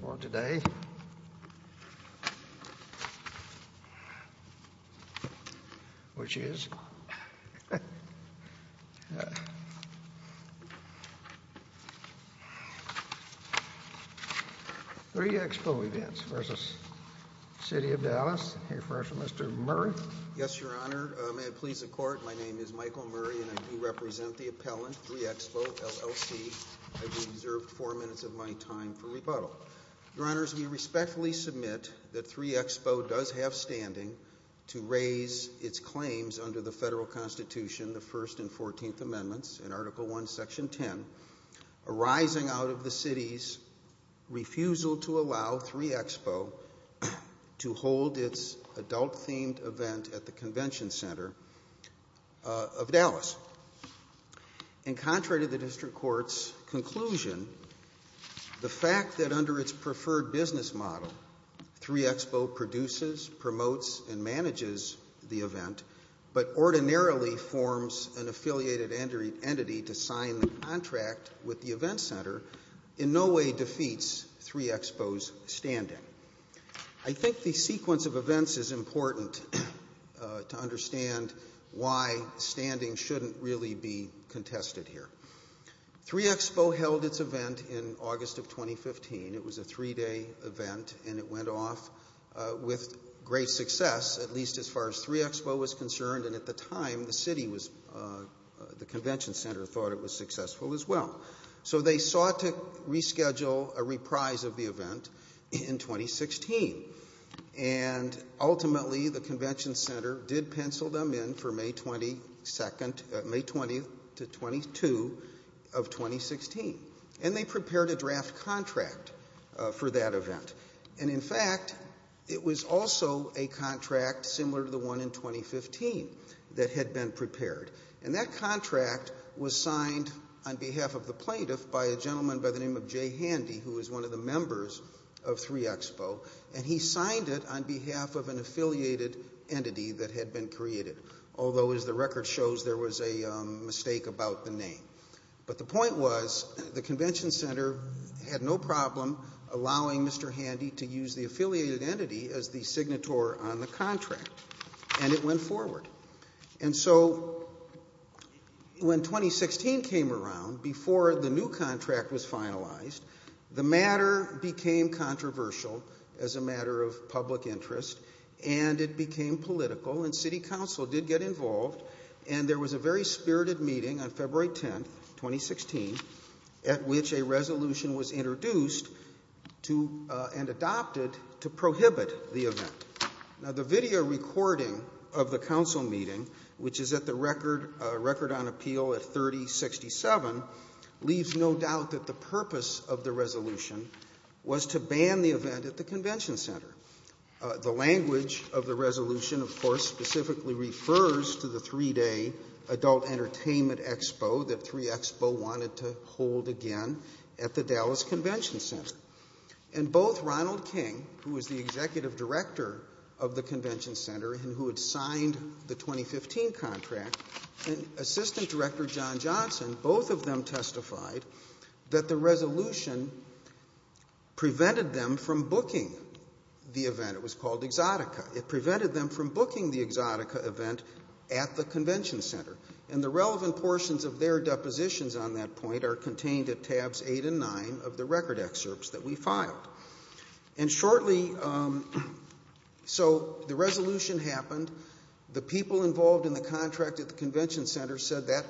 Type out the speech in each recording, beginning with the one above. For today, which is Three Expo Events versus City of Dallas, I'll hear first from Mr. Murray. Yes, Your Honor. May it please the Court, my name is Michael Murray and I do represent the appellant, Three Expo, LLC. I do deserve four minutes of my time for rebuttal. Your Honors, we respectfully submit that Three Expo does have standing to raise its claims under the federal Constitution, the First and Fourteenth Amendments in Article I, Section 10, arising out of the City's refusal to allow Three Expo to hold its adult-themed event at the Convention Center of Dallas. In contrary to the District Court's conclusion, the fact that under its preferred business model, Three Expo produces, promotes, and manages the event, but ordinarily forms an affiliated entity to sign the contract with the event center, in no way defeats Three Expo's standing. I think the sequence of events is important to understand why standing shouldn't really be contested here. Three Expo held its event in August of 2015. It was a three-day event, and it went off with great success, at least as far as Three Expo was concerned, and at the time, the Convention Center thought it was successful as well. So they sought to reschedule a reprise of the event in 2016. And ultimately, the Convention Center did pencil them in for May 22 of 2016, and they prepared a draft contract for that event. And in fact, it was also a contract similar to the one in 2015 that had been prepared, and that contract was signed on behalf of the plaintiff by a gentleman by the name of Jay Handy, who was one of the members of Three Expo, and he signed it on behalf of an affiliated entity that had been created, although, as the record shows, there was a mistake about the name. But the point was, the Convention Center had no problem allowing Mr. Handy to use the affiliated entity as the signator on the contract, and it went forward. And so when 2016 came around, before the new contract was finalized, the matter became controversial as a matter of public interest, and it became political, and city council did get involved, and there was a very spirited meeting on February 10, 2016, at which a resolution was introduced and adopted to prohibit the event. Now, the video recording of the council meeting, which is at the Record on Appeal at 3067, leaves no doubt that the purpose of the resolution was to ban the event at the Convention Center. The language of the resolution, of course, specifically refers to the three-day Adult Entertainment Expo that Three Expo wanted to hold again at the Dallas Convention Center. And both Ronald King, who was the Executive Director of the Convention Center and who had signed the 2015 contract, and Assistant Director John Johnson, both of them testified that the resolution prevented them from booking the event. It was called Exotica. It prevented them from booking the Exotica event at the Convention Center. And the relevant portions of their depositions on that point are contained at Tabs 8 and 9 of the record excerpts that we filed. And shortly, so the resolution happened. The people involved in the contract at the Convention Center said that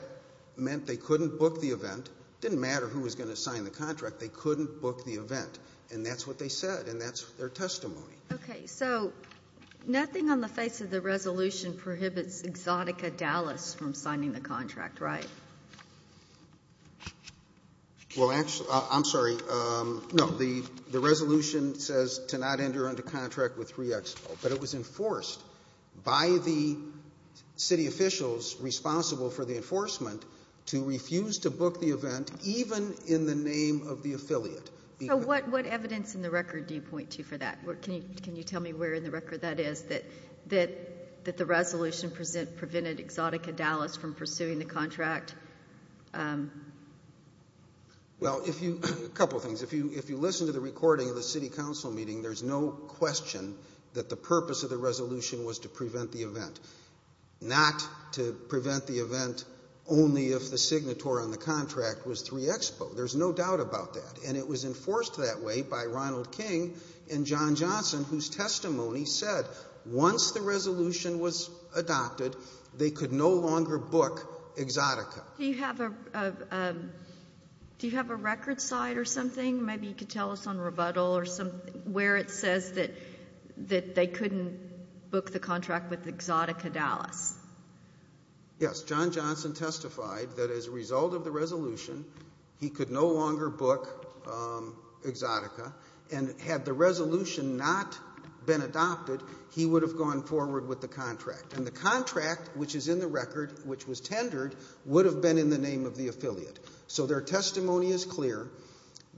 meant they couldn't book the event. It didn't matter who was going to sign the contract. They couldn't book the event, and that's what they said, and that's their testimony. Okay, so nothing on the face of the resolution prohibits Exotica Dallas from signing the contract, right? Well, actually, I'm sorry. No, the resolution says to not enter under contract with Three Expo, but it was enforced by the city officials responsible for the enforcement to refuse to book the event even in the name of the affiliate. So what evidence in the record do you point to for that? Can you tell me where in the record that is that the resolution prevented Exotica Dallas from pursuing the contract? Well, a couple of things. If you listen to the recording of the city council meeting, there's no question that the purpose of the resolution was to prevent the event, not to prevent the event only if the signatory on the contract was Three Expo. There's no doubt about that, and it was enforced that way by Ronald King and John Johnson, whose testimony said once the resolution was adopted, they could no longer book Exotica. Do you have a record side or something? Maybe you could tell us on rebuttal where it says that they couldn't book the contract with Exotica Dallas. Yes, John Johnson testified that as a result of the resolution, he could no longer book Exotica, and had the resolution not been adopted, he would have gone forward with the contract, and the contract which is in the record, which was tendered, would have been in the name of the affiliate. So their testimony is clear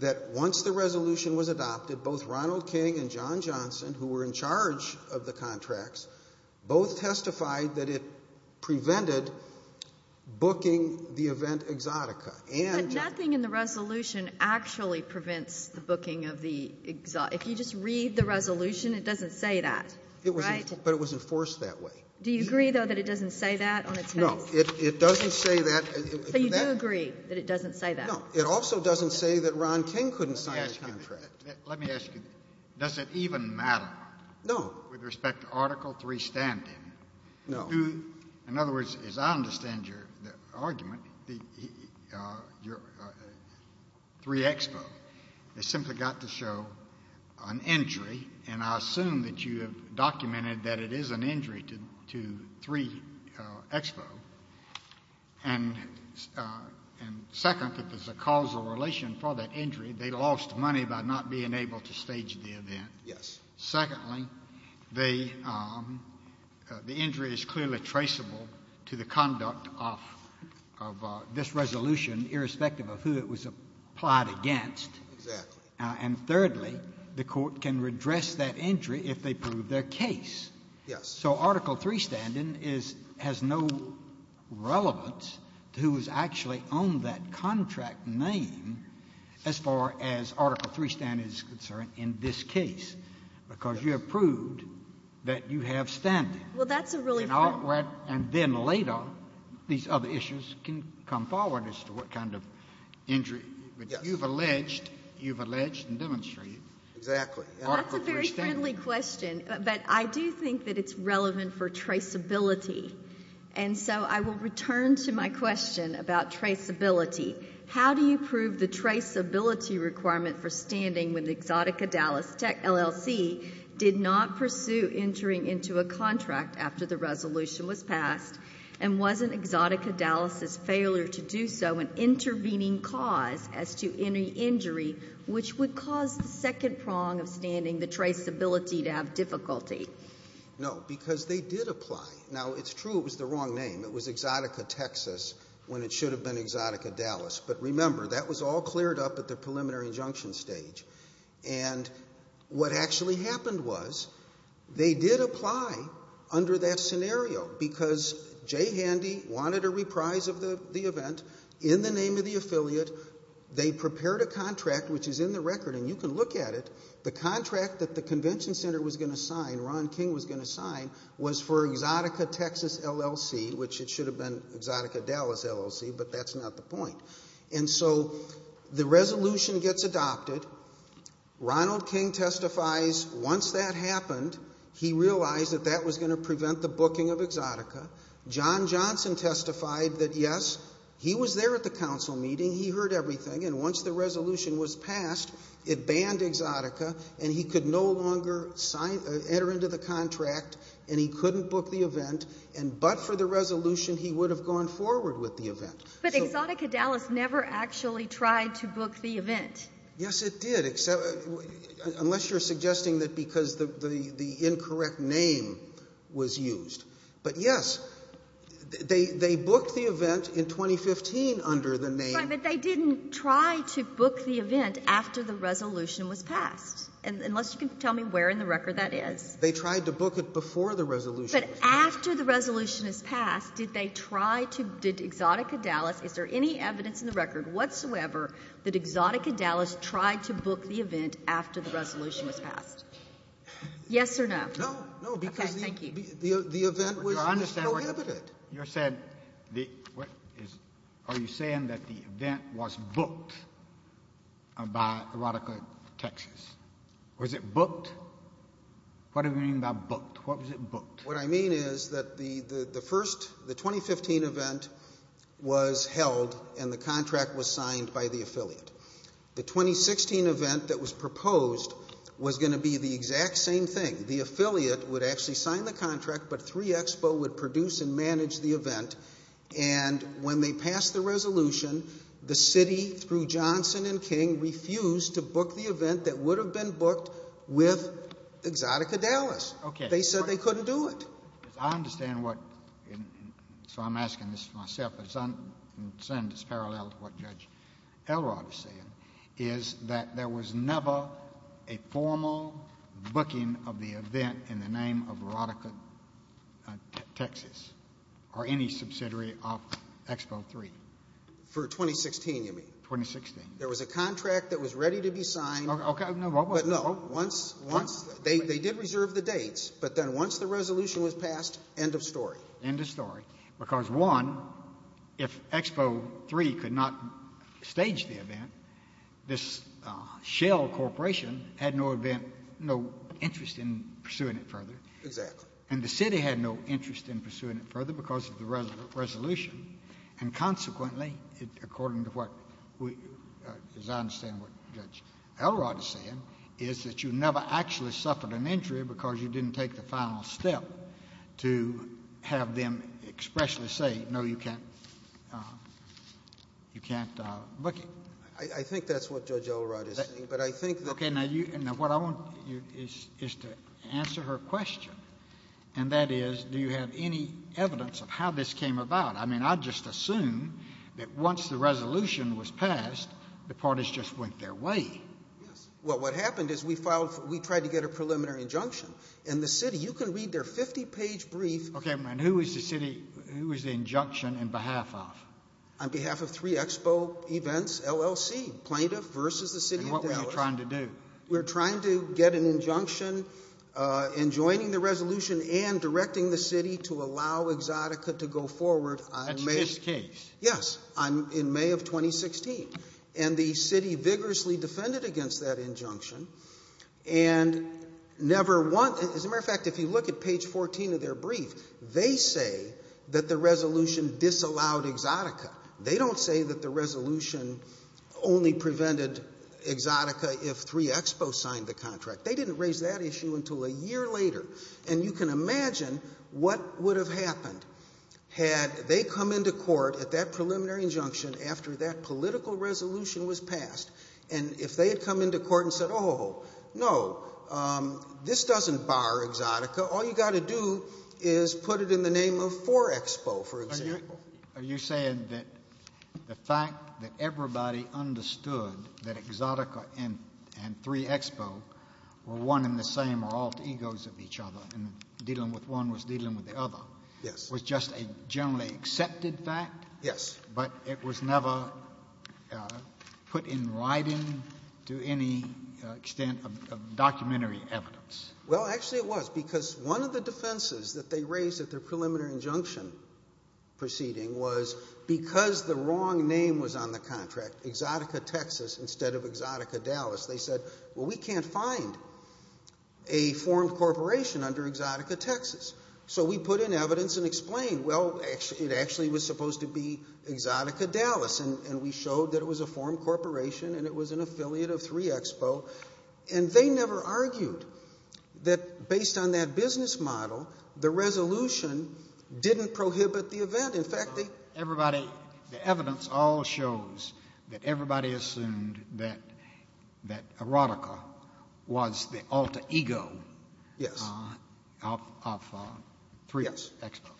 that once the resolution was adopted, both Ronald King and John Johnson, who were in charge of the contracts, both testified that it prevented booking the event Exotica. But nothing in the resolution actually prevents the booking of the Exotica. If you just read the resolution, it doesn't say that, right? But it was enforced that way. Do you agree, though, that it doesn't say that on its name? No, it doesn't say that. So you do agree that it doesn't say that? Let me ask you, does it even matter? No. With respect to Article 3 standing? No. In other words, as I understand your argument, 3 Expo has simply got to show an injury, and I assume that you have documented that it is an injury to 3 Expo. And second, if there's a causal relation for that injury, they lost money by not being able to stage the event. Yes. Secondly, the injury is clearly traceable to the conduct of this resolution, irrespective of who it was applied against. Exactly. And thirdly, the court can redress that injury if they prove their case. Yes. So Article 3 standing has no relevance to who has actually owned that contract name, as far as Article 3 standing is concerned in this case, because you have proved that you have standing. Well, that's a really— And then later, these other issues can come forward as to what kind of injury. Yes. But you've alleged and demonstrated Article 3 standing. Exactly. That's a very friendly question, but I do think that it's relevant for traceability. And so I will return to my question about traceability. How do you prove the traceability requirement for standing when the Exotica Dallas LLC did not pursue entering into a contract after the resolution was passed and wasn't Exotica Dallas's failure to do so an intervening cause as to any injury, which would cause the second prong of standing, the traceability, to have difficulty? No, because they did apply. Now, it's true it was the wrong name. It was Exotica Texas when it should have been Exotica Dallas. But remember, that was all cleared up at the preliminary injunction stage. And what actually happened was they did apply under that scenario because Jay Handy wanted a reprise of the event in the name of the affiliate. They prepared a contract, which is in the record, and you can look at it. The contract that the convention center was going to sign, Ron King was going to sign, was for Exotica Texas LLC, which it should have been Exotica Dallas LLC, but that's not the point. And so the resolution gets adopted. Ronald King testifies. Once that happened, he realized that that was going to prevent the booking of Exotica. John Johnson testified that, yes, he was there at the council meeting. He heard everything, and once the resolution was passed, it banned Exotica, and he could no longer enter into the contract, and he couldn't book the event. But for the resolution, he would have gone forward with the event. But Exotica Dallas never actually tried to book the event. Yes, it did, unless you're suggesting that because the incorrect name was used. But, yes, they booked the event in 2015 under the name. But they didn't try to book the event after the resolution was passed, unless you can tell me where in the record that is. They tried to book it before the resolution was passed. But after the resolution was passed, did they try to ‑‑ did Exotica Dallas, is there any evidence in the record whatsoever that Exotica Dallas tried to book the event after the resolution was passed? Yes or no? No. No, because the event was prohibited. You said ‑‑ are you saying that the event was booked by Erotica Texas? Was it booked? What do you mean by booked? What was it booked? What I mean is that the first ‑‑ the 2015 event was held, and the contract was signed by the affiliate. The 2016 event that was proposed was going to be the exact same thing. The affiliate would actually sign the contract, but 3 Expo would produce and manage the event. And when they passed the resolution, the city, through Johnson and King, refused to book the event that would have been booked with Exotica Dallas. Okay. They said they couldn't do it. I understand what ‑‑ so I'm asking this to myself, but it's parallel to what Judge Elrod is saying, is that there was never a formal booking of the event in the name of Erotica Texas or any subsidiary of Expo 3? For 2016, you mean. 2016. There was a contract that was ready to be signed. Okay. But no, once ‑‑ they did reserve the dates, End of story. because, one, if Expo 3 could not stage the event, this Shell Corporation had no interest in pursuing it further. Exactly. And the city had no interest in pursuing it further because of the resolution. And consequently, according to what, as I understand what Judge Elrod is saying, is that you never actually suffered an injury because you didn't take the final step to have them expressly say, no, you can't book it. I think that's what Judge Elrod is saying, but I think that ‑‑ Okay. Now, what I want you to do is to answer her question, and that is, do you have any evidence of how this came about? I mean, I just assume that once the resolution was passed, the parties just went their way. Yes. Well, what happened is we tried to get a preliminary injunction, and the city, you can read their 50‑page brief. Okay, and who is the city ‑‑ who is the injunction in behalf of? On behalf of three Expo events, LLC, Plaintiff versus the City of Dallas. And what were you trying to do? We were trying to get an injunction in joining the resolution and directing the city to allow Exotica to go forward. That's this case? Yes, in May of 2016. And the city vigorously defended against that injunction and never want ‑‑ as a matter of fact, if you look at page 14 of their brief, they say that the resolution disallowed Exotica. They don't say that the resolution only prevented Exotica if three Expo signed the contract. They didn't raise that issue until a year later. And you can imagine what would have happened had they come into court at that preliminary injunction after that political resolution was passed. And if they had come into court and said, oh, no, this doesn't bar Exotica, all you got to do is put it in the name of four Expo, for example. Are you saying that the fact that everybody understood that Exotica and three Expo were one and the same or all egos of each other and dealing with one was dealing with the other was just a generally accepted fact? Yes. But it was never put in writing to any extent of documentary evidence? Well, actually it was because one of the defenses that they raised at their preliminary injunction proceeding was because the wrong name was on the contract, Exotica, Texas, instead of Exotica, Dallas, they said, well, we can't find a formed corporation under Exotica, Texas. So we put in evidence and explained, well, it actually was supposed to be Exotica, Dallas, and we showed that it was a formed corporation and it was an affiliate of three Expo. And they never argued that based on that business model, the resolution didn't prohibit the event. In fact, the evidence all shows that everybody assumed that Erotica was the alter ego of three Expo.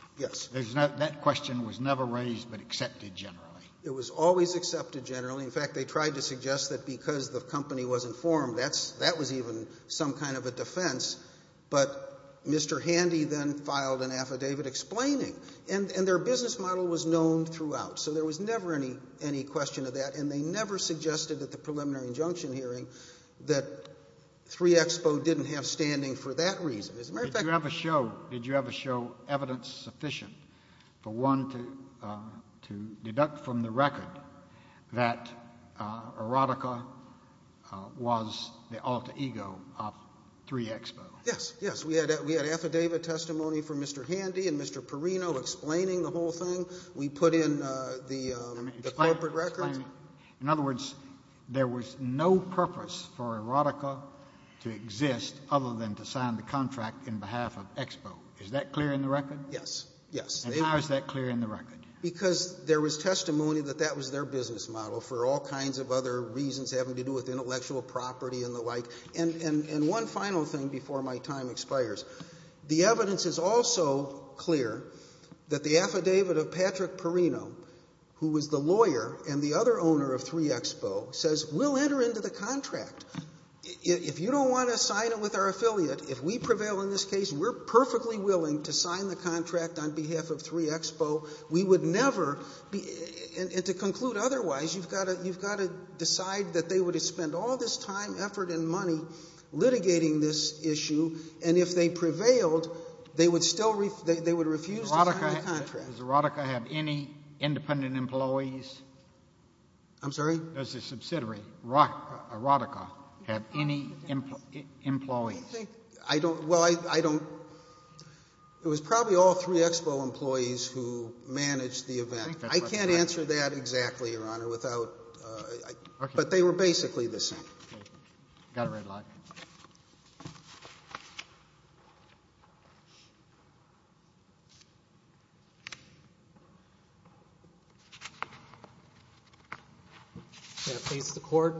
That question was never raised but accepted generally? It was always accepted generally. In fact, they tried to suggest that because the company wasn't formed, that was even some kind of a defense. But Mr. Handy then filed an affidavit explaining and their business model was known throughout. So there was never any question of that and they never suggested at the preliminary injunction hearing that three Expo didn't have standing for that reason. Did you ever show evidence sufficient for one to deduct from the record that Erotica was the alter ego of three Expo? Yes, yes. We had affidavit testimony from Mr. Handy and Mr. Perino explaining the whole thing. We put in the corporate records. In other words, there was no purpose for Erotica to exist other than to sign the contract in behalf of Expo. Is that clear in the record? Yes, yes. And how is that clear in the record? Because there was testimony that that was their business model for all kinds of other reasons having to do with intellectual property and the like. And one final thing before my time expires. The evidence is also clear that the affidavit of Patrick Perino, who was the lawyer and the other owner of three Expo, says we'll enter into the contract. If you don't want to sign it with our affiliate, if we prevail in this case, we're perfectly willing to sign the contract on behalf of three Expo. We would never, and to conclude otherwise, you've got to decide that they would have spent all this time, effort, and money litigating this issue, and if they prevailed, they would still refuse to sign the contract. Does Erotica have any independent employees? I'm sorry? Does the subsidiary, Erotica, have any employees? I don't. Well, I don't. It was probably all three Expo employees who managed the event. I can't answer that exactly, Your Honor, without. But they were basically the same. Got a red light. May it please the Court.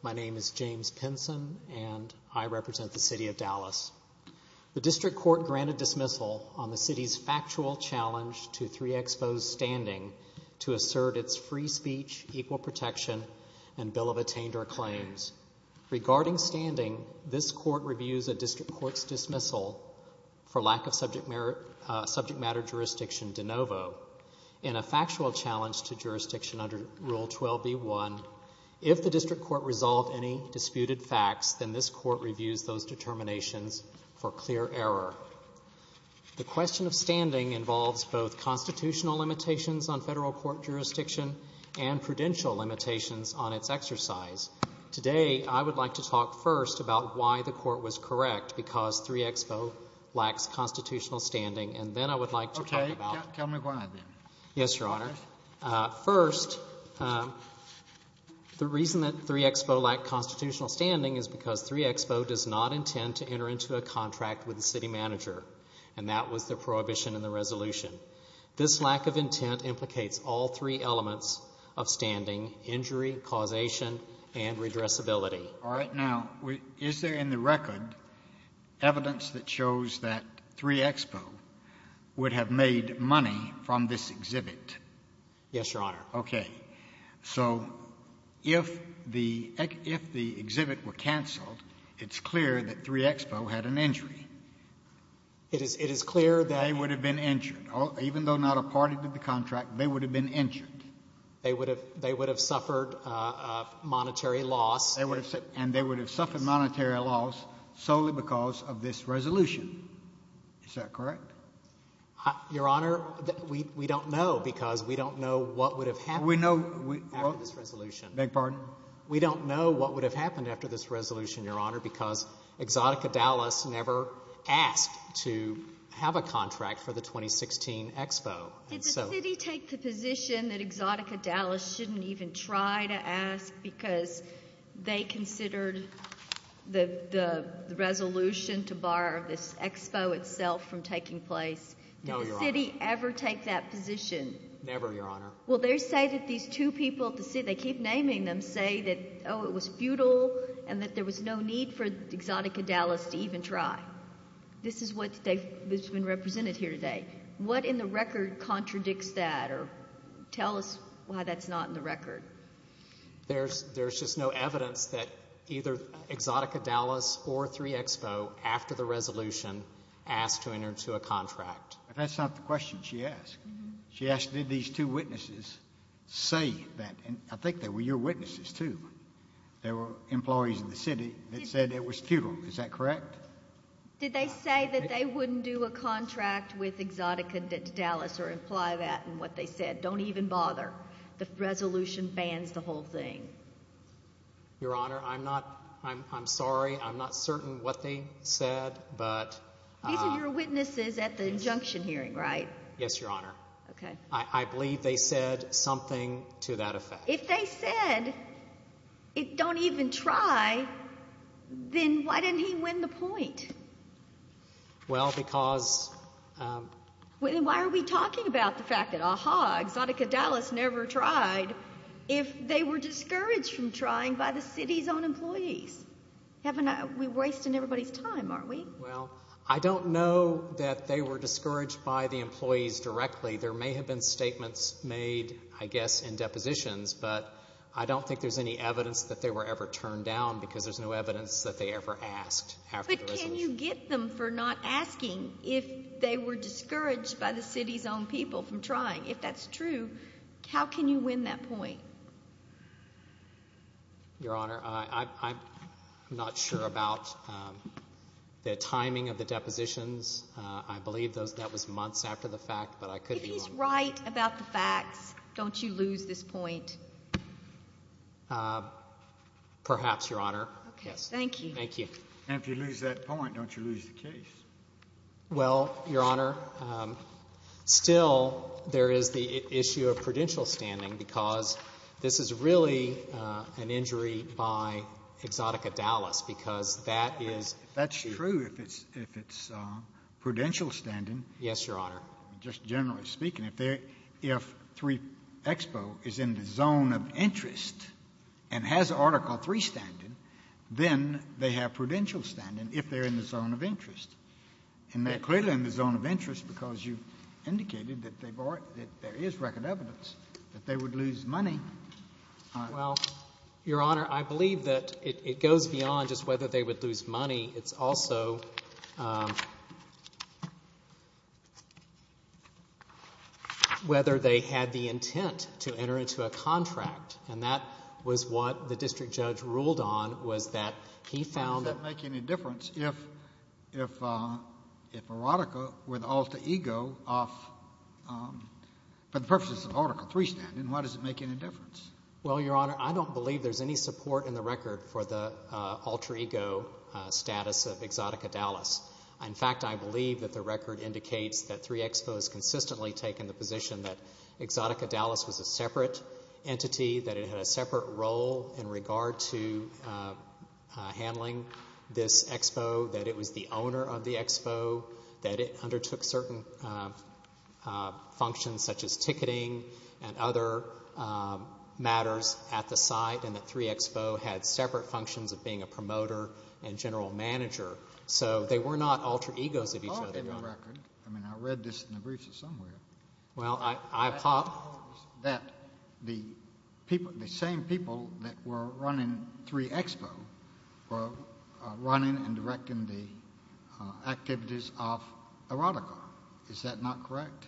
My name is James Pinson, and I represent the city of Dallas. The district court granted dismissal on the city's factual challenge to three Expo's standing to assert its free speech, equal protection, and bill of attainder claims. Regarding standing, this court reviews a district court's dismissal for lack of subject matter jurisdiction de novo in a factual challenge to jurisdiction under Rule 12b-1. If the district court resolved any disputed facts, then this court reviews those determinations for clear error. The question of standing involves both constitutional limitations on federal court jurisdiction and prudential limitations on its exercise. Today I would like to talk first about why the court was correct because three Expo lacks constitutional standing, and then I would like to talk about... Okay, tell me why, then. Yes, Your Honor. First, the reason that three Expo lacked constitutional standing is because three Expo does not intend to enter into a contract with the city manager, and that was the prohibition in the resolution. This lack of intent implicates all three elements of standing, injury, causation, and redressability. All right, now, is there in the record evidence that shows that three Expo would have made money from this exhibit? Yes, Your Honor. Okay. So if the exhibit were canceled, it's clear that three Expo had an injury. It is clear that... They would have been injured. Even though not a party to the contract, they would have been injured. They would have suffered monetary loss. And they would have suffered monetary loss solely because of this resolution. Is that correct? Your Honor, we don't know, because we don't know what would have happened after this resolution. We don't know what would have happened after this resolution, Your Honor, because Exotica Dallas never asked to have a contract for the 2016 Expo. Did the city take the position that Exotica Dallas shouldn't even try to ask because they considered the resolution to bar this Expo itself from taking place? No, Your Honor. Did the city ever take that position? Never, Your Honor. Well, they say that these two people, they keep naming them, say that, oh, it was futile and that there was no need for Exotica Dallas to even try. This is what has been represented here today. What in the record contradicts that? Tell us why that's not in the record. There's just no evidence that either Exotica Dallas or 3 Expo, after the resolution, asked to enter into a contract. That's not the question she asked. She asked, did these two witnesses say that? I think they were your witnesses, too. There were employees in the city that said it was futile. Is that correct? Did they say that they wouldn't do a contract with Exotica Dallas or imply that in what they said? Don't even bother. The resolution bans the whole thing. Your Honor, I'm sorry. I'm not certain what they said. These are your witnesses at the injunction hearing, right? Yes, Your Honor. I believe they said something to that effect. If they said, don't even try, then why didn't he win the point? Well, because... Why are we talking about the fact that, aha, Exotica Dallas never tried, if they were discouraged from trying by the city's own employees? We're wasting everybody's time, aren't we? Well, I don't know that they were discouraged by the employees directly. There may have been statements made, I guess, in depositions, but I don't think there's any evidence that they were ever turned down because there's no evidence that they ever asked after the resolution. But can you get them for not asking if they were discouraged by the city's own people from trying? If that's true, how can you win that point? Your Honor, I'm not sure about the timing of the depositions. I believe that was months after the fact, but I could be wrong. If he's right about the facts, don't you lose this point? Perhaps, Your Honor. Okay, thank you. And if you lose that point, don't you lose the case? Well, Your Honor, still there is the issue of prudential standing because this is really an injury by Exotica Dallas because that is... That's true if it's prudential standing. Yes, Your Honor. Just generally speaking, if 3 Expo is in the zone of interest and has Article III standing, then they have prudential standing if they're in the zone of interest. And they're clearly in the zone of interest because you indicated that there is record evidence that they would lose money. Well, Your Honor, I believe that it goes beyond just whether they would lose money. It's also whether they had the intent to enter into a contract. And that was what the district judge ruled on was that he found that... How does that make any difference if Erotica, with Alter Ego, for the purposes of Article III standing, how does it make any difference? Well, Your Honor, I don't believe there's any support in the record for the Alter Ego status of Exotica Dallas. In fact, I believe that the record indicates that 3 Expo has consistently taken the position that Exotica Dallas was a separate entity that it had a separate role in regard to handling this expo, that it was the owner of the expo, that it undertook certain functions such as ticketing and other matters at the site, and that 3 Expo had separate functions of being a promoter and general manager. So they were not alter egos of each other, Your Honor. I mean, I read this in the briefs of somewhere. Well, I apologize that the same people that were running 3 Expo were running and directing the activities of Erotica. Is that not correct?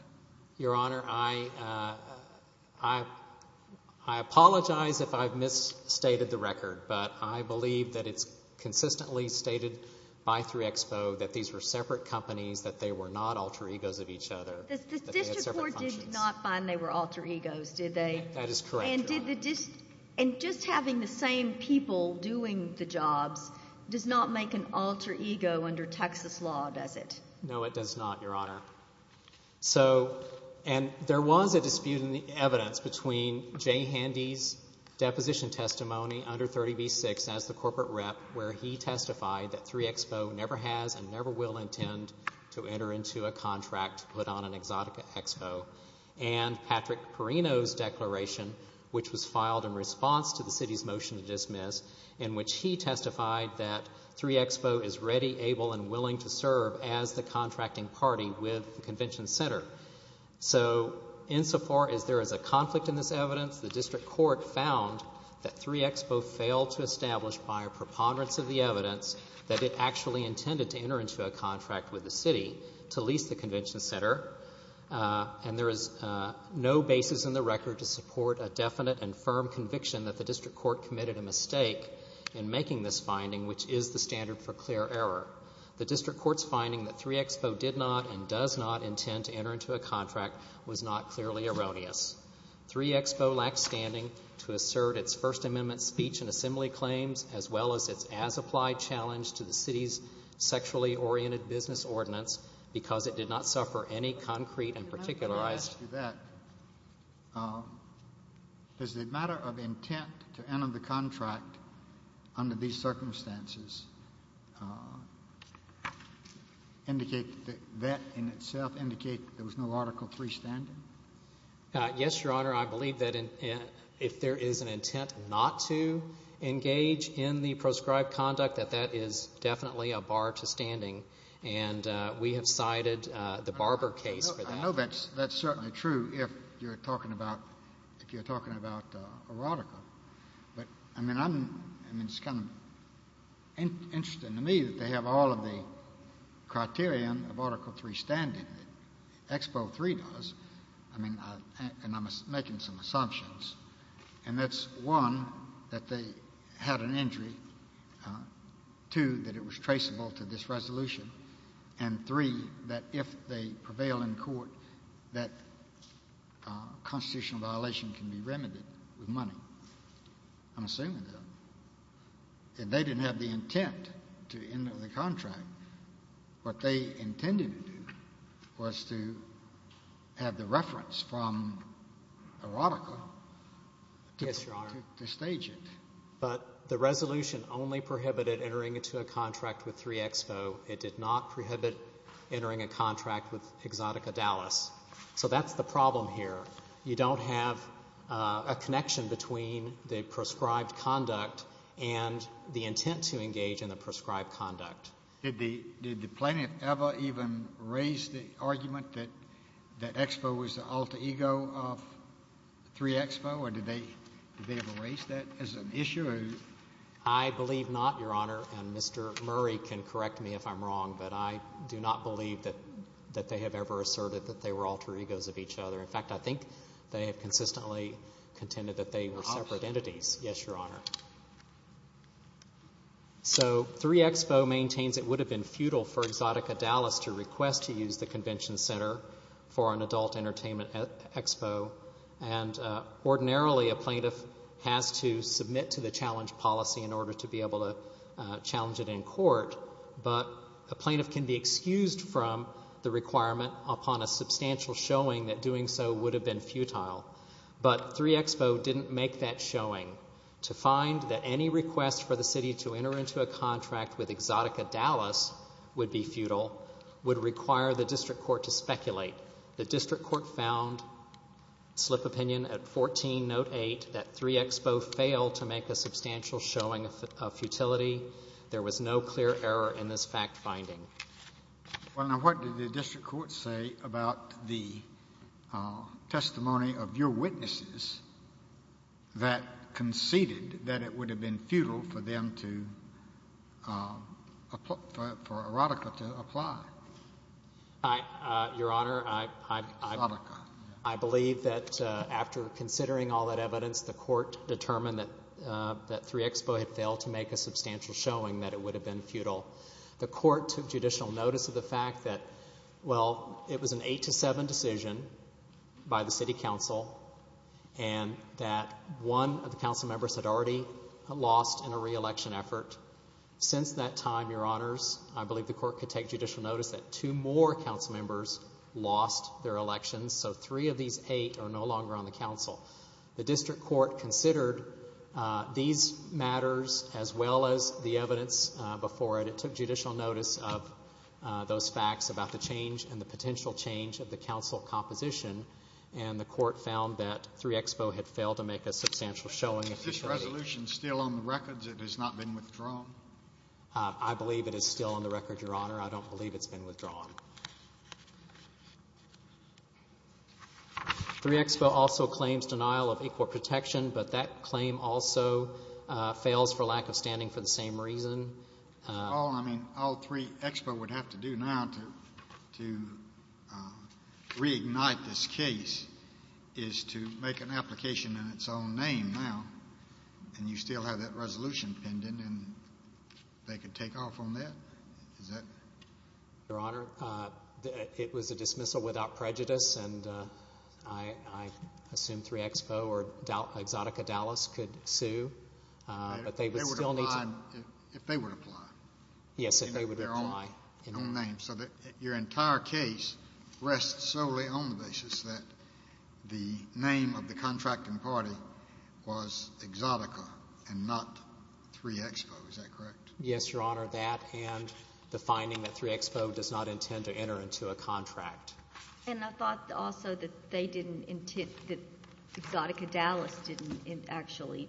Your Honor, I apologize if I've misstated the record, but I believe that it's consistently stated by 3 Expo that these were separate companies, that they were not alter egos of each other. The district court did not find they were alter egos, did they? That is correct, Your Honor. And just having the same people doing the jobs does not make an alter ego under Texas law, does it? No, it does not, Your Honor. And there was a dispute in the evidence between Jay Handy's deposition testimony under 30b-6 as the corporate rep where he testified that 3 Expo never has and never will intend to enter into a contract put on an Exotica Expo and Patrick Perino's declaration, which was filed in response to the city's motion to dismiss, in which he testified that 3 Expo is ready, able, and willing to serve as the contracting party with the convention center. So insofar as there is a conflict in this evidence, the district court found that 3 Expo failed to establish by a preponderance of the evidence that it actually intended to enter into a contract with the city to lease the convention center, and there is no basis in the record to support a definite and firm conviction that the district court committed a mistake in making this finding, which is the standard for clear error. The district court's finding that 3 Expo did not and does not intend to enter into a contract was not clearly erroneous. 3 Expo lacks standing to assert its First Amendment speech and assembly claims as well as its as-applied challenge to the city's sexually-oriented business ordinance because it did not suffer any concrete and particularized... Can I ask you that? Does the matter of intent to enter the contract under these circumstances indicate that that in itself indicates there was no Article III standing? Does the matter of intent not to engage in the proscribed conduct, that that is definitely a bar to standing? And we have cited the Barber case for that. I know that's certainly true if you're talking about a radical, but it's kind of interesting to me that they have all of the criterion of Article III standing. Expo III does, and I'm making some assumptions, and that's, one, that they had an injury, two, that it was traceable to this resolution, and three, that if they prevail in court, that constitutional violation can be remedied with money. I'm assuming that. They didn't have the intent to enter the contract. What they intended to do was to have the reference from a radical to stage it. But the resolution only prohibited entering into a contract with 3 Expo. It did not prohibit entering a contract with Exotica Dallas. So that's the problem here. You don't have a connection between the proscribed conduct and the intent to engage in the proscribed conduct. Did the plaintiff ever even raise the argument that Expo was the alter ego of 3 Expo, or did they ever raise that as an issue? I believe not, Your Honor, and Mr. Murray can correct me if I'm wrong, but I do not believe that they have ever asserted that they were alter egos of each other. In fact, I think they have consistently contended that they were separate entities. Yes, Your Honor. So 3 Expo maintains it would have been futile for Exotica Dallas to request to use the convention center for an adult entertainment expo, and ordinarily a plaintiff has to submit to the challenge policy in order to be able to challenge it in court, but a plaintiff can be excused from the requirement upon a substantial showing that doing so would have been futile. But 3 Expo didn't make that showing to find that any request for the city to enter into a contract with Exotica Dallas would be futile would require the district court to speculate. The district court found, slip opinion at 14, note 8, that 3 Expo failed to make a substantial showing of futility. There was no clear error in this fact finding. Well, now what did the district court say about the testimony of your witnesses that conceded that it would have been futile for Erotica to apply? Your Honor, I believe that after considering all that evidence, the court determined that 3 Expo had failed to make a substantial showing that it would have been futile. The court took judicial notice of the fact that, well, it was an 8-7 decision by the city council and that 1 of the council members had already lost in a re-election effort. Since that time, Your Honors, I believe the court could take judicial notice that 2 more council members lost their elections, so 3 of these 8 are no longer on the council. The district court considered these matters as well as the evidence before it. It took judicial notice of those facts about the change and the potential change of the council composition, and the court found that 3 Expo had failed to make a substantial showing of futility. Is this resolution still on the records? It has not been withdrawn? I believe it is still on the record, Your Honor. I don't believe it's been withdrawn. 3 Expo also claims denial of equal protection, but that claim also fails for lack of standing for the same reason. All 3 Expo would have to do now to reignite this case is to make an application in its own name now, and you still have that resolution pending, and they could take off on that? Your Honor, it was a dismissal without prejudice, and I assume 3 Expo or Exotica Dallas could sue, but they would still need to— If they would apply. Yes, if they would apply. In their own name, so that your entire case rests solely on the basis that the name of the contracting party was Exotica and not 3 Expo. Is that correct? Yes, Your Honor, that and the finding that 3 Expo does not intend to enter into a contract. And I thought also that they didn't intend— that Exotica Dallas didn't actually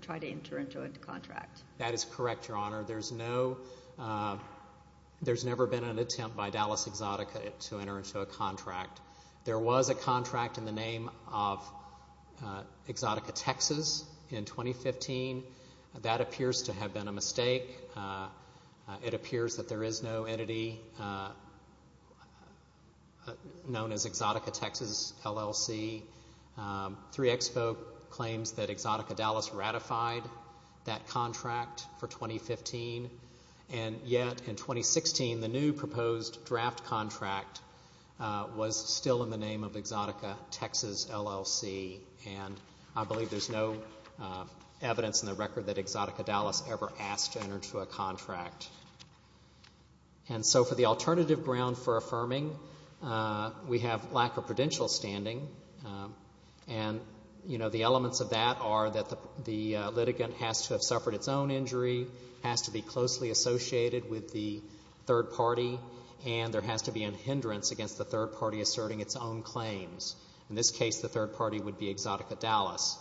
try to enter into a contract. That is correct, Your Honor. There's no—there's never been an attempt by Dallas Exotica to enter into a contract. There was a contract in the name of Exotica Texas in 2015. That appears to have been a mistake. It appears that there is no entity known as Exotica Texas LLC. 3 Expo claims that Exotica Dallas ratified that contract for 2015, and yet in 2016 the new proposed draft contract was still in the name of Exotica Texas LLC, and I believe there's no evidence in the record that Exotica Dallas ever asked to enter into a contract. And so for the alternative ground for affirming, we have lack of prudential standing, and, you know, the elements of that are that the litigant has to have suffered its own injury, has to be closely associated with the third party, and there has to be a hindrance against the third party asserting its own claims. In this case, the third party would be Exotica Dallas.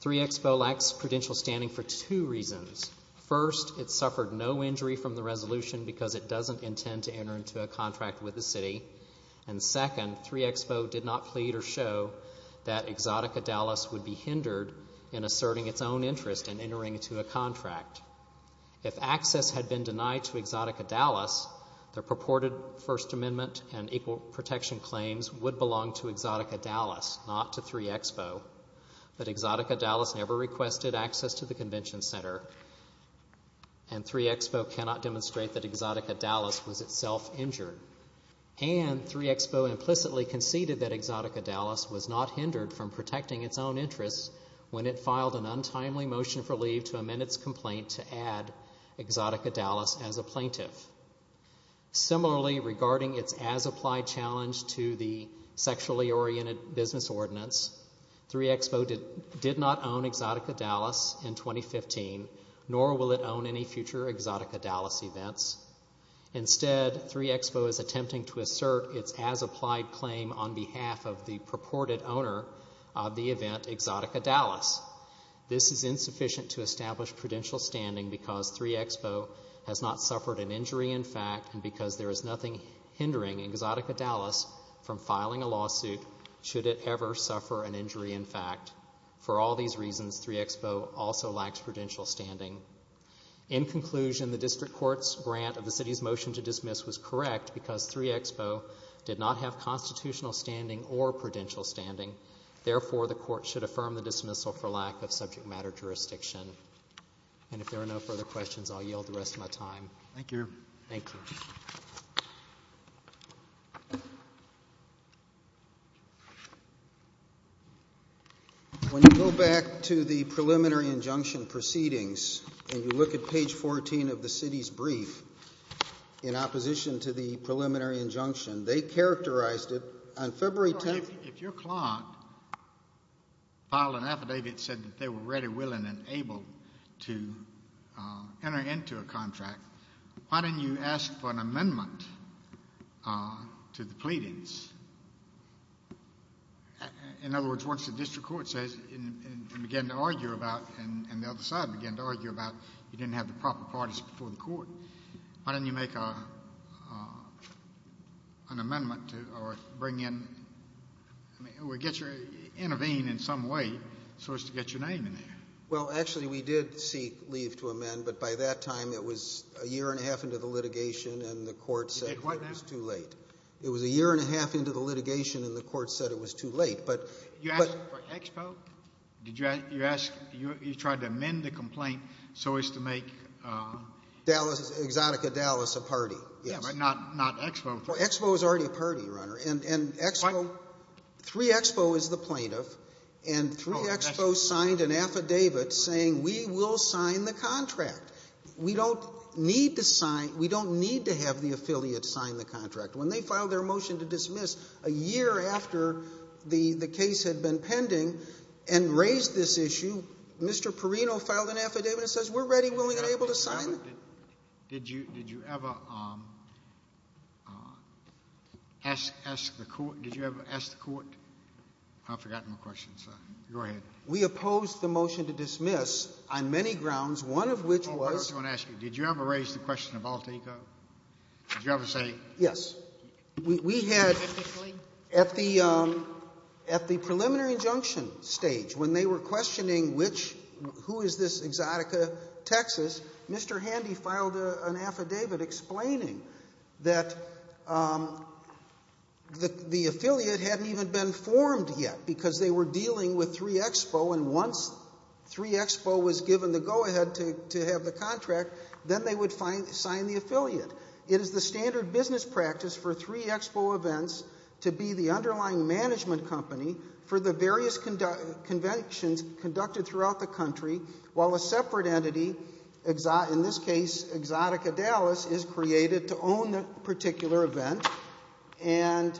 3 Expo lacks prudential standing for two reasons. First, it suffered no injury from the resolution because it doesn't intend to enter into a contract with the city. And second, 3 Expo did not plead or show that Exotica Dallas would be hindered in asserting its own interest in entering into a contract. If access had been denied to Exotica Dallas, the purported First Amendment and equal protection claims would belong to Exotica Dallas, not to 3 Expo. But Exotica Dallas never requested access to the convention center, and 3 Expo cannot demonstrate that Exotica Dallas was itself injured. And 3 Expo implicitly conceded that Exotica Dallas was not hindered from protecting its own interests when it filed an untimely motion for leave to amend its complaint to add Exotica Dallas as a plaintiff. Similarly, regarding its as-applied challenge to the sexually oriented business ordinance, 3 Expo did not own Exotica Dallas in 2015, nor will it own any future Exotica Dallas events. Instead, 3 Expo is attempting to assert its as-applied claim on behalf of the purported owner of the event Exotica Dallas. This is insufficient to establish prudential standing because 3 Expo has not suffered an injury in fact and because there is nothing hindering Exotica Dallas from filing a lawsuit should it ever suffer an injury in fact. For all these reasons, 3 Expo also lacks prudential standing. In conclusion, the District Court's grant of the City's motion to dismiss was correct because 3 Expo did not have constitutional standing or prudential standing. Therefore, the Court should affirm the dismissal for lack of subject matter jurisdiction. And if there are no further questions, I'll yield the rest of my time. Thank you. Thank you. When you go back to the preliminary injunction proceedings and you look at page 14 of the City's brief in opposition to the preliminary injunction, they characterized it on February 10th. If your client filed an affidavit and said that they were ready, willing, and able to enter into a contract, why didn't you ask for an amendment to the pleadings? In other words, once the District Court says and began to argue about and the other side began to argue about you didn't have the proper parties before the Court, why didn't you make an amendment or intervene in some way so as to get your name in there? Well, actually we did seek leave to amend, but by that time it was a year and a half into the litigation and the Court said it was too late. It was a year and a half into the litigation and the Court said it was too late. You asked for Expo? You tried to amend the complaint so as to make— Exotica Dallas a party. Yeah, but not Expo. Expo is already a party, Your Honor, and Expo— What? 3-Expo is the plaintiff, and 3-Expo signed an affidavit saying we will sign the contract. We don't need to sign—we don't need to have the affiliate sign the contract. When they filed their motion to dismiss a year after the case had been pending and raised this issue, Mr. Perino filed an affidavit and says we're ready, willing, and able to sign it. Did you ever ask the Court—I've forgotten the question, so go ahead. We opposed the motion to dismiss on many grounds, one of which was— Oh, I was going to ask you, did you ever raise the question of Altico? Did you ever say— Yes. At the preliminary injunction stage, when they were questioning who is this Exotica Texas, Mr. Handy filed an affidavit explaining that the affiliate hadn't even been formed yet because they were dealing with 3-Expo, and once 3-Expo was given the go-ahead to have the contract, then they would sign the affiliate. It is the standard business practice for 3-Expo events to be the underlying management company for the various conventions conducted throughout the country, while a separate entity, in this case Exotica Dallas, is created to own that particular event, and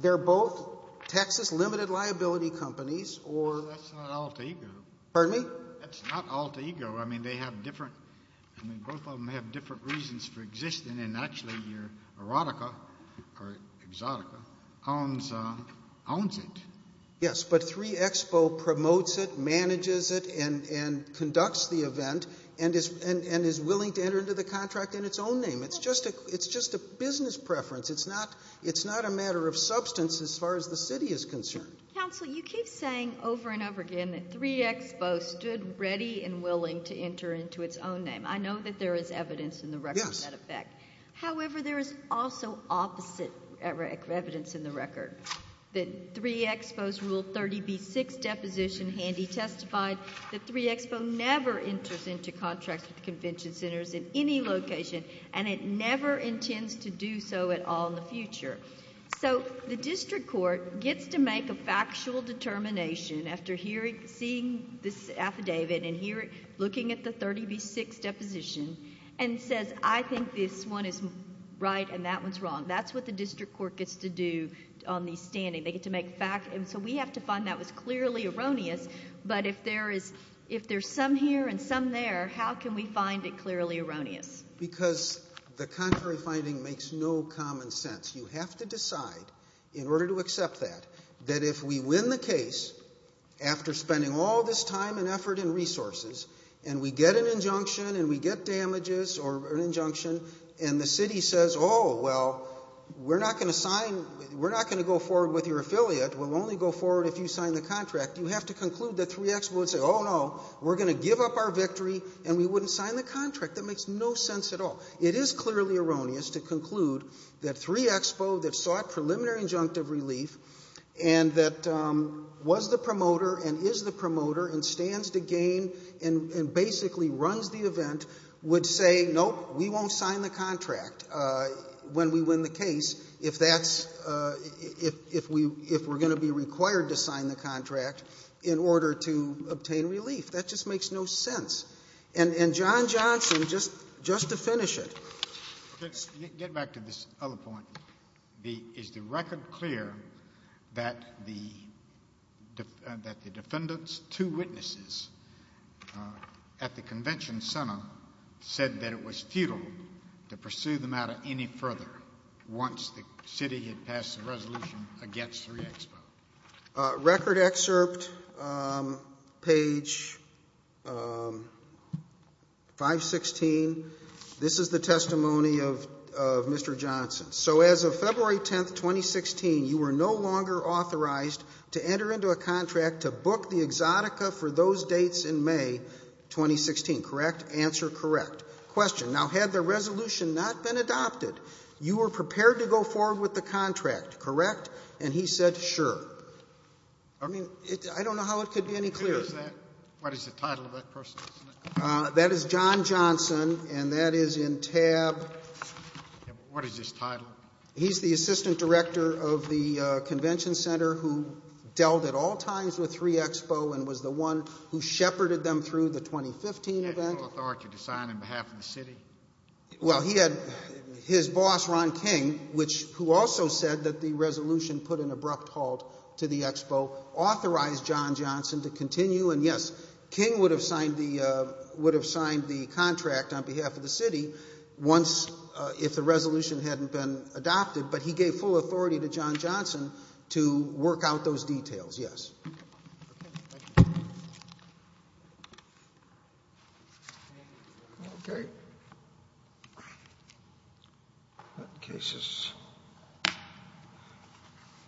they're both Texas limited liability companies, or— That's not Altico. Pardon me? That's not Altico. I mean, they have different—both of them have different reasons for existing, and actually Erotica, or Exotica, owns it. Yes, but 3-Expo promotes it, manages it, and conducts the event, and is willing to enter into the contract in its own name. It's just a business preference. It's not a matter of substance as far as the city is concerned. Counsel, you keep saying over and over again that 3-Expo stood ready and willing to enter into its own name. I know that there is evidence in the record of that effect. However, there is also opposite evidence in the record. The 3-Expo's Rule 30b-6 deposition, Handy testified, that 3-Expo never enters into contracts with convention centers in any location, and it never intends to do so at all in the future. So the district court gets to make a factual determination after seeing this affidavit and looking at the 30b-6 deposition and says, I think this one is right and that one's wrong. That's what the district court gets to do on these standings. They get to make facts, and so we have to find that was clearly erroneous, but if there's some here and some there, how can we find it clearly erroneous? Because the contrary finding makes no common sense. You have to decide in order to accept that, that if we win the case after spending all this time and effort and resources and we get an injunction and we get damages or an injunction and the city says, oh, well, we're not going to sign, we're not going to go forward with your affiliate. We'll only go forward if you sign the contract. You have to conclude that 3-Expo would say, oh, no, we're going to give up our victory and we wouldn't sign the contract. That makes no sense at all. It is clearly erroneous to conclude that 3-Expo, that sought preliminary injunctive relief and that was the promoter and is the promoter and stands to gain and basically runs the event, would say, nope, we won't sign the contract when we win the case if we're going to be required to sign the contract in order to obtain relief. That just makes no sense. And John Johnson, just to finish it. Let's get back to this other point. Is the record clear that the defendant's two witnesses at the convention center said that it was futile to pursue the matter any further once the city had passed the resolution against 3-Expo? Record excerpt, page 516. This is the testimony of Mr. Johnson. So as of February 10, 2016, you were no longer authorized to enter into a contract to book the Exotica for those dates in May 2016, correct? Answer, correct. Question, now had the resolution not been adopted, you were prepared to go forward with the contract, correct? And he said, sure. I mean, I don't know how it could be any clearer. What is the title of that person? That is John Johnson, and that is in tab. What is his title? He's the assistant director of the convention center who dealt at all times with 3-Expo and was the one who shepherded them through the 2015 event. He had no authority to sign on behalf of the city? Well, he had his boss, Ron King, who also said that the resolution put an abrupt halt to the Expo, authorized John Johnson to continue. And, yes, King would have signed the contract on behalf of the city if the resolution hadn't been adopted, but he gave full authority to John Johnson to work out those details, yes. Thank you. Okay. That case is...